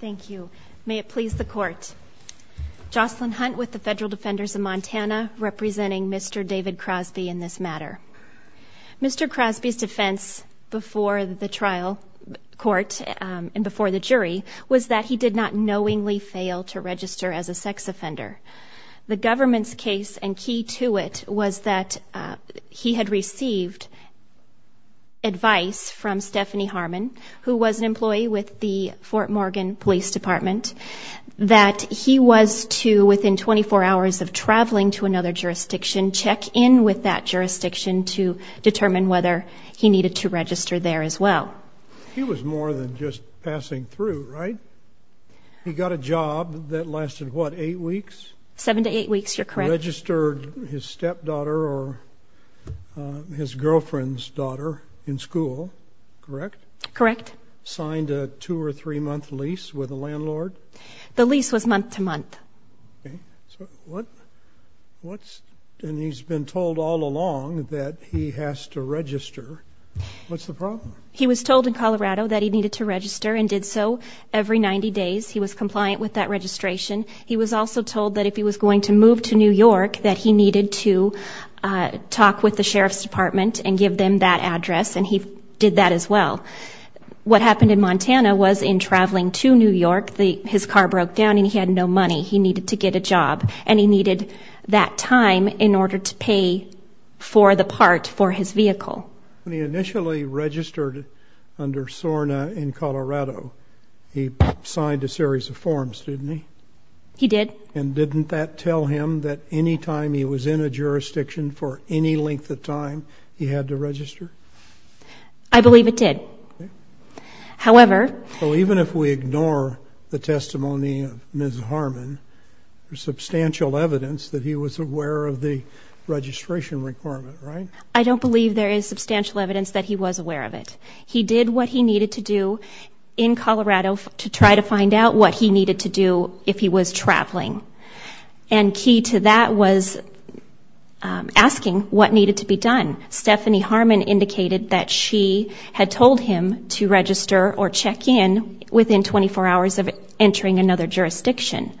Thank you. May it please the court. Jocelyn Hunt with the Federal Defenders of Montana, representing Mr. David Crosby in this matter. Mr. Crosby's defense before the trial court and before the jury was that he did not knowingly fail to register as a sex offender. The government's case, and key to it, was that he had received advice from Stephanie Harmon, who was an employee with the Fort Morgan Police Department, that he was to, within 24 hours of traveling to another jurisdiction, check in with that jurisdiction to determine whether he needed to register there as well. He was more than just passing through, right? He got a job that lasted, what, eight weeks? Seven to eight weeks, you're correct. He registered his stepdaughter or his girlfriend's daughter in school, correct? Correct. Signed a two or three month lease with a landlord? The lease was month to month. Okay. So what, what's, and he's been told all along that he has to register. What's the problem? He was told in Colorado that he needed to register and did so every 90 days. He was to talk with the Sheriff's Department and give them that address and he did that as well. What happened in Montana was in traveling to New York, his car broke down and he had no money. He needed to get a job and he needed that time in order to pay for the part for his vehicle. When he initially registered under SORNA in Colorado, he signed a series of forms, didn't he? He did. Okay. And didn't that tell him that any time he was in a jurisdiction for any length of time, he had to register? I believe it did. However... So even if we ignore the testimony of Ms. Harmon, there's substantial evidence that he was aware of the registration requirement, right? I don't believe there is substantial evidence that he was aware of it. He did what he needed to do in Colorado to try to find out what he needed to do if he was traveling. And key to that was asking what needed to be done. Stephanie Harmon indicated that she had told him to register or check in within 24 hours of entering another jurisdiction.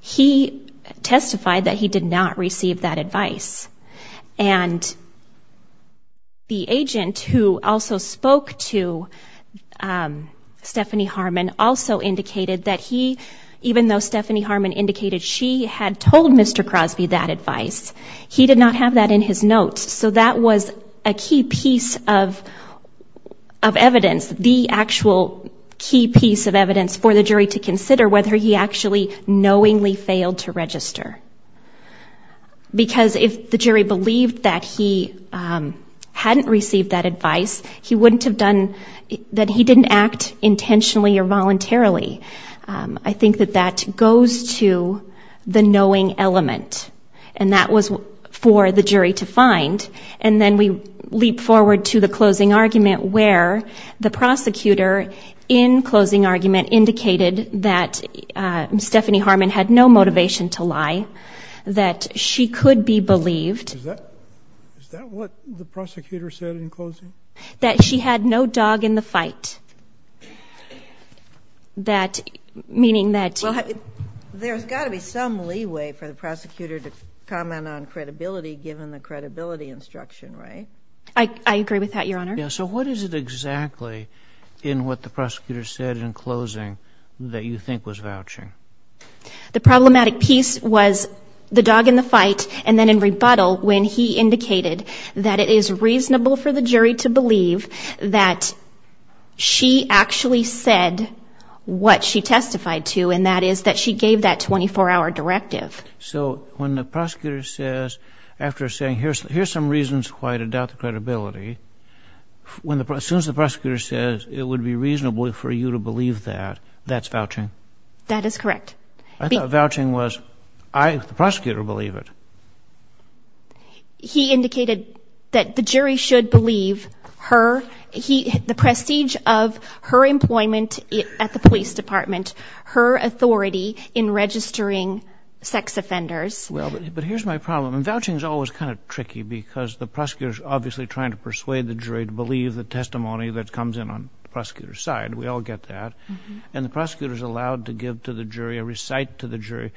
He testified that he did not receive that advice. And the agent who also spoke to Stephanie Harmon also indicated that he, even though Stephanie Harmon indicated she had told Mr. Crosby that advice, he did not have that in his notes. So that was a key piece of evidence, the actual key piece of evidence for the jury to consider whether he actually knowingly failed to register. Because if the jury believed that he hadn't received that advice, he wouldn't have done... that he didn't act intentionally or voluntarily. I think that that goes to the knowing element. And that was for the jury to find. And then we leap forward to the closing argument where the prosecutor in closing argument indicated that Stephanie Harmon had no motivation to vote, that she could be believed... Is that what the prosecutor said in closing? That she had no dog in the fight. That, meaning that... Well, there's got to be some leeway for the prosecutor to comment on credibility given the credibility instruction, right? I agree with that, Your Honor. Yeah. So what is it exactly in what the prosecutor said in closing that you think was vouching? The problematic piece was the dog in the fight, and then in rebuttal when he indicated that it is reasonable for the jury to believe that she actually said what she testified to, and that is that she gave that 24-hour directive. So when the prosecutor says, after saying, here's some reasons why I doubt the credibility, when the... as soon as the prosecutor says it would be reasonable for you to believe that, that's vouching? That is correct. I thought vouching was, I, the prosecutor, believe it. He indicated that the jury should believe her... the prestige of her employment at the police department, her authority in registering sex offenders. Well, but here's my problem. Vouching's always kind of tricky because the prosecutor's obviously trying to persuade the jury to believe the testimony that comes in on the prosecutor's We all get that. And the prosecutor's allowed to give to the jury or recite to the jury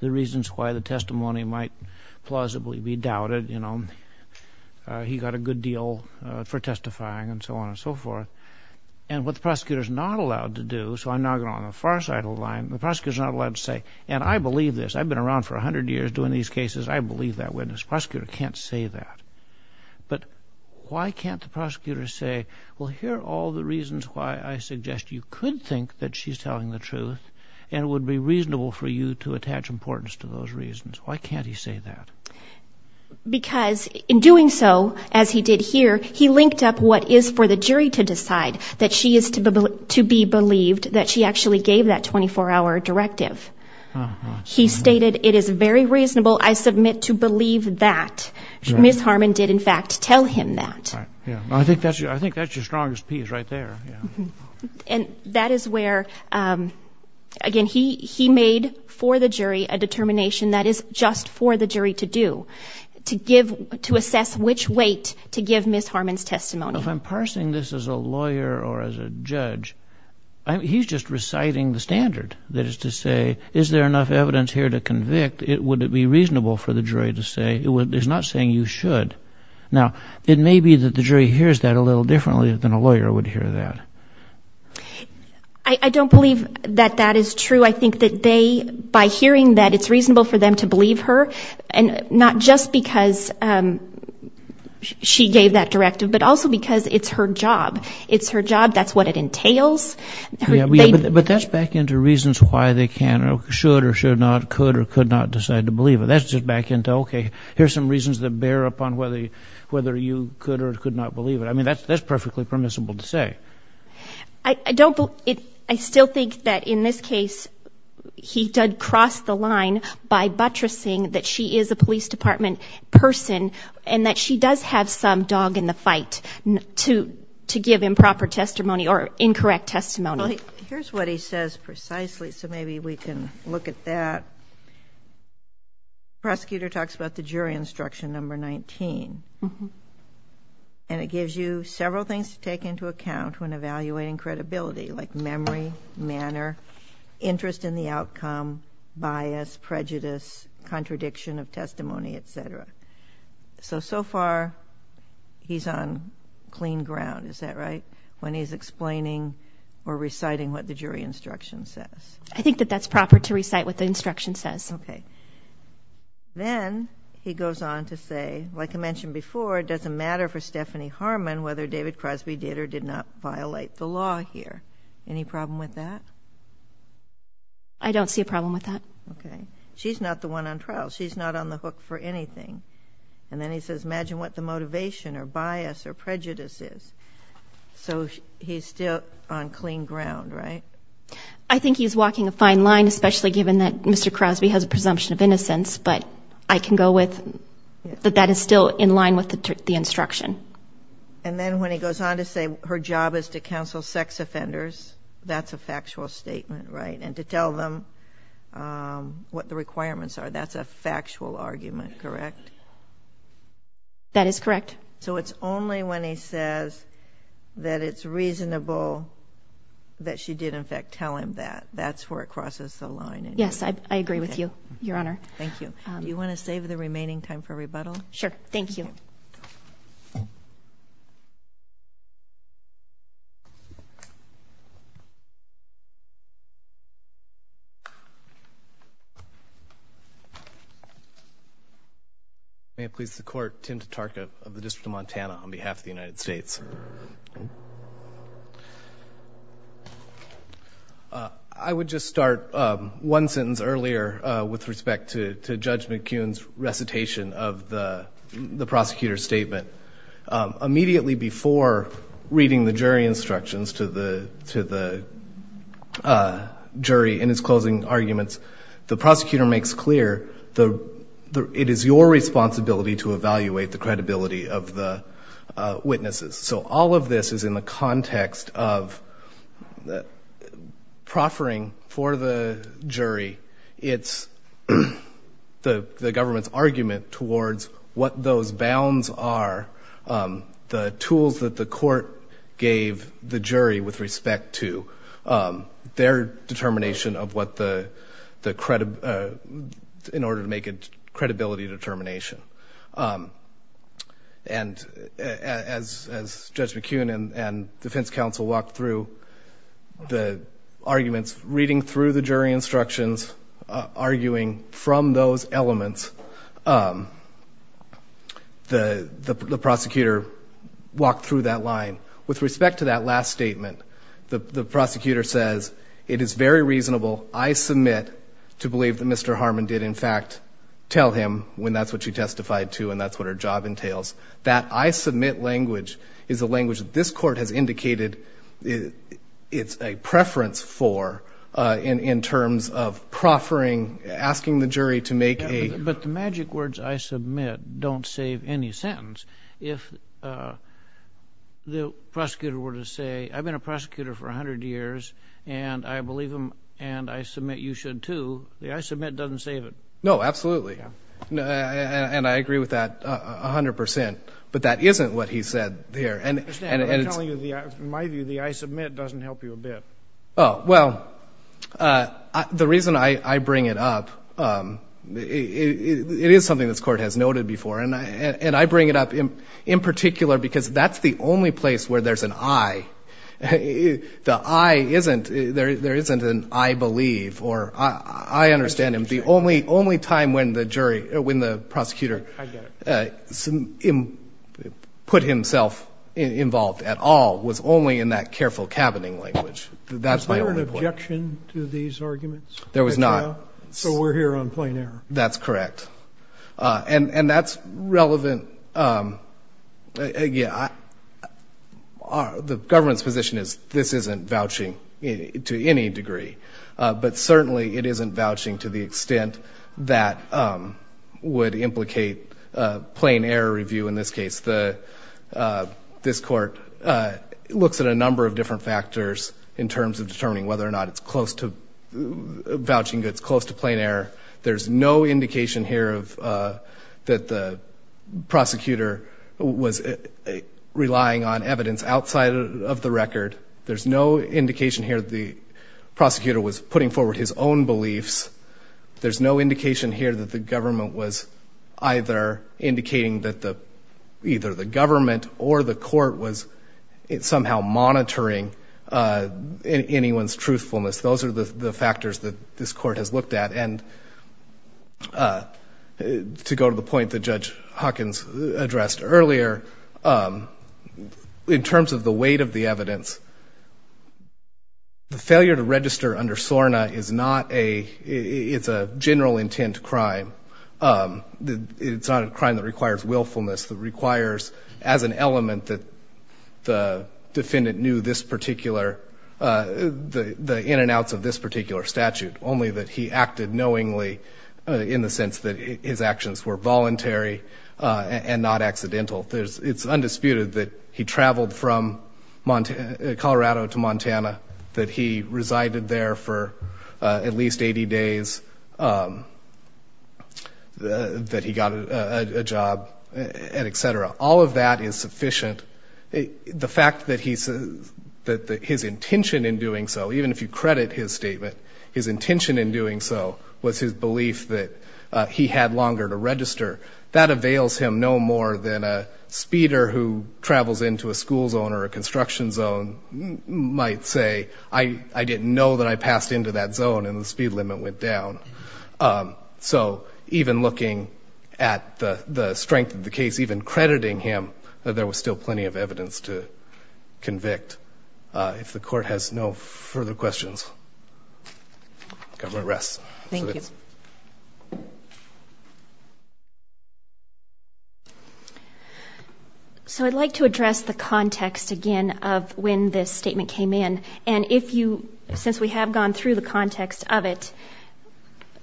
the reasons why the testimony might plausibly be doubted, you know. He got a good deal for testifying and so on and so forth. And what the prosecutor's not allowed to do, so I'm now going on the far side of the line, the prosecutor's not allowed to say, and I believe this, I've been around for a hundred years doing these cases, I believe that witness. Prosecutor can't say that. But why can't the prosecutor say, well, here are all the reasons why I suggest you could think that she's telling the truth and it would be reasonable for you to attach importance to those reasons. Why can't he say that? Because in doing so, as he did here, he linked up what is for the jury to decide, that she is to be believed, that she actually gave that 24-hour directive. He stated, it is very reasonable, I submit, to believe that. Ms. Harmon did, in fact, tell him that. I think that's your strongest piece right there. And that is where, again, he made for the jury a determination that is just for the jury to do, to assess which weight to give Ms. Harmon's testimony. If I'm parsing this as a lawyer or as a judge, he's just reciting the standard, that is to say, is there enough evidence here to convict, would it be reasonable for the jury to say, he's not saying you should. Now, it may be that the jury hears that a little differently than a lawyer would hear that. I don't believe that that is true. I think that they, by hearing that it's reasonable for them to believe her, and not just because she gave that directive, but also because it's her job. It's her job, that's what it entails. But that's back into reasons why they can or should or should not, could or could not decide to believe it. That's just back into, okay, here's some reasons that bear up on whether you could or could not believe it. I mean, that's perfectly permissible to say. I still think that in this case, he did cross the line by buttressing that she is a police department person and that she does have some dog in the fight to give improper testimony or incorrect testimony. Here's what he says precisely, so maybe we can look at that. Prosecutor talks about the jury instruction number 19. And it gives you several things to take into account when evaluating credibility, like memory, manner, interest in the outcome, bias, prejudice, contradiction of testimony, etc. So, so far, he's on clean ground, is that right? When he's explaining or reciting what the jury instruction says. I think that that's proper to recite what the instruction says. Okay. Then, he goes on to say, like I mentioned before, it doesn't matter for Stephanie Harmon whether David Crosby did or did not violate the law here. Any problem with that? I don't see a problem with that. Okay. She's not the one on trial. She's not on the hook for anything. And then he says, imagine what the motivation or bias or prejudice is. So he's still on clean ground, right? I think he's walking a fine line, especially given that Mr. Crosby has a presumption of innocence. But I can go with that that is still in line with the instruction. And then when he goes on to say her job is to counsel sex offenders, that's a factual statement, right? And to tell them what the requirements are. That's a factual argument, correct? That is correct. So it's only when he says that it's reasonable that she did, in fact, tell him that. That's where it crosses the line. Yes, I agree with you, Your Honor. Thank you. Do you want to save the remaining time for rebuttal? Sure. Thank you. May it please the Court, Tim Tatarka of the District of Montana on behalf of the United States. I would just start one sentence earlier with respect to Judge McCune's recitation of the prosecutor's statement. Immediately before reading the jury instructions to the jury in his closing arguments, the prosecutor makes clear it is your responsibility to evaluate the credibility of the witnesses. So all of this is in the context of proffering for the jury the government's argument towards what those bounds are, the tools that the court gave the jury with respect to their determination in order to make a credibility determination. And as Judge McCune and defense counsel walked through the arguments, reading through the jury instructions, arguing from those elements, the prosecutor walked through that line. With respect to that last statement, the prosecutor says, It is very reasonable, I submit, to believe that Mr. Harmon did in fact tell him when that's what she testified to and that's what her job entails. That I submit language is a language that this Court has indicated it's a preference for in terms of proffering, asking the jury to make a But the magic words I submit don't save any sentence. If the prosecutor were to say, I've been a prosecutor for a hundred years and I believe him and I submit you should too, the I submit doesn't save it. No, absolutely. And I agree with that a hundred percent. But that isn't what he said there. I'm telling you, in my view, the I submit doesn't help you a bit. Well, the reason I bring it up, it is something this Court has noted before and I bring it up in particular because that's the only place where there's an I. The I isn't, there isn't an I believe or I understand him. The only time when the jury, when the prosecutor put himself involved at all was only in that careful cabining language. Was there an objection to these arguments? There was not. So we're here on plain error. That's correct. And that's relevant. The government's position is this isn't vouching to any degree. But certainly it isn't vouching to the extent that would implicate plain error review in this case. This Court looks at a number of different factors in terms of determining whether or not it's close to vouching, that it's close to plain error. There's no indication here that the prosecutor was relying on evidence outside of the record. There's no indication here that the prosecutor was putting forward his own beliefs. There's no indication here that the government was either indicating that either the government or the Court was somehow monitoring anyone's truthfulness. Those are the factors that this Court has looked at. And to go to the point that Judge Hawkins addressed earlier, in terms of the weight of the evidence, the failure to register under SORNA is not a, it's a general intent crime. It's not a crime that requires willfulness, that requires as an element that the defendant knew this particular, the ins and outs of this particular statute, only that he acted knowingly in the sense that his actions were voluntary and not accidental. It's undisputed that he traveled from Colorado to Montana, that he resided there for at least 80 days, that he got a job, et cetera. All of that is sufficient. The fact that his intention in doing so, even if you credit his statement, his intention in doing so was his belief that he had longer to register, that avails him no more than a speeder who travels into a school zone or a construction zone might say, I didn't know that I passed into that zone and the speed limit went down. So even looking at the strength of the case, even crediting him, there was still plenty of evidence to convict. If the court has no further questions, the government rests. Thank you. So I'd like to address the context again of when this statement came in. And if you, since we have gone through the context of it,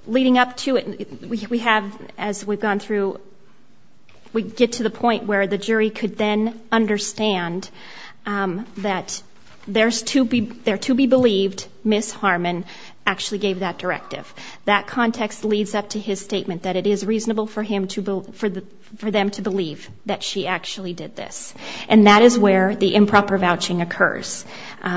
leading up to it, we have, as we've gone through, we get to the point where the jury could then understand that there to be believed Ms. Harmon actually gave that directive. That context leads up to his statement that it is reasonable for them to believe that she actually did this. And that is where the improper vouching occurs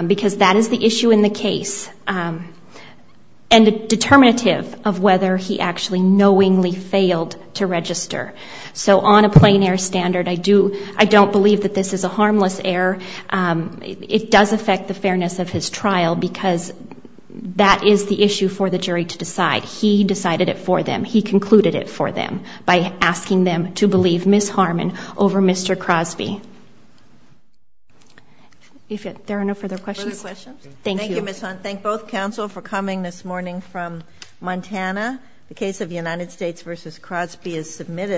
because that is the issue in the case and the determinative of whether he actually knowingly failed to register. So on a plein air standard, I don't believe that this is a harmless error. It does affect the fairness of his trial because that is the issue for the jury to decide. He decided it for them. He concluded it for them by asking them to believe Ms. Harmon over Mr. Crosby. If there are no further questions. Further questions? Thank you. Thank you, Ms. Hunt. Thank both counsel for coming this morning from Montana. The case of United States v. Crosby is submitted.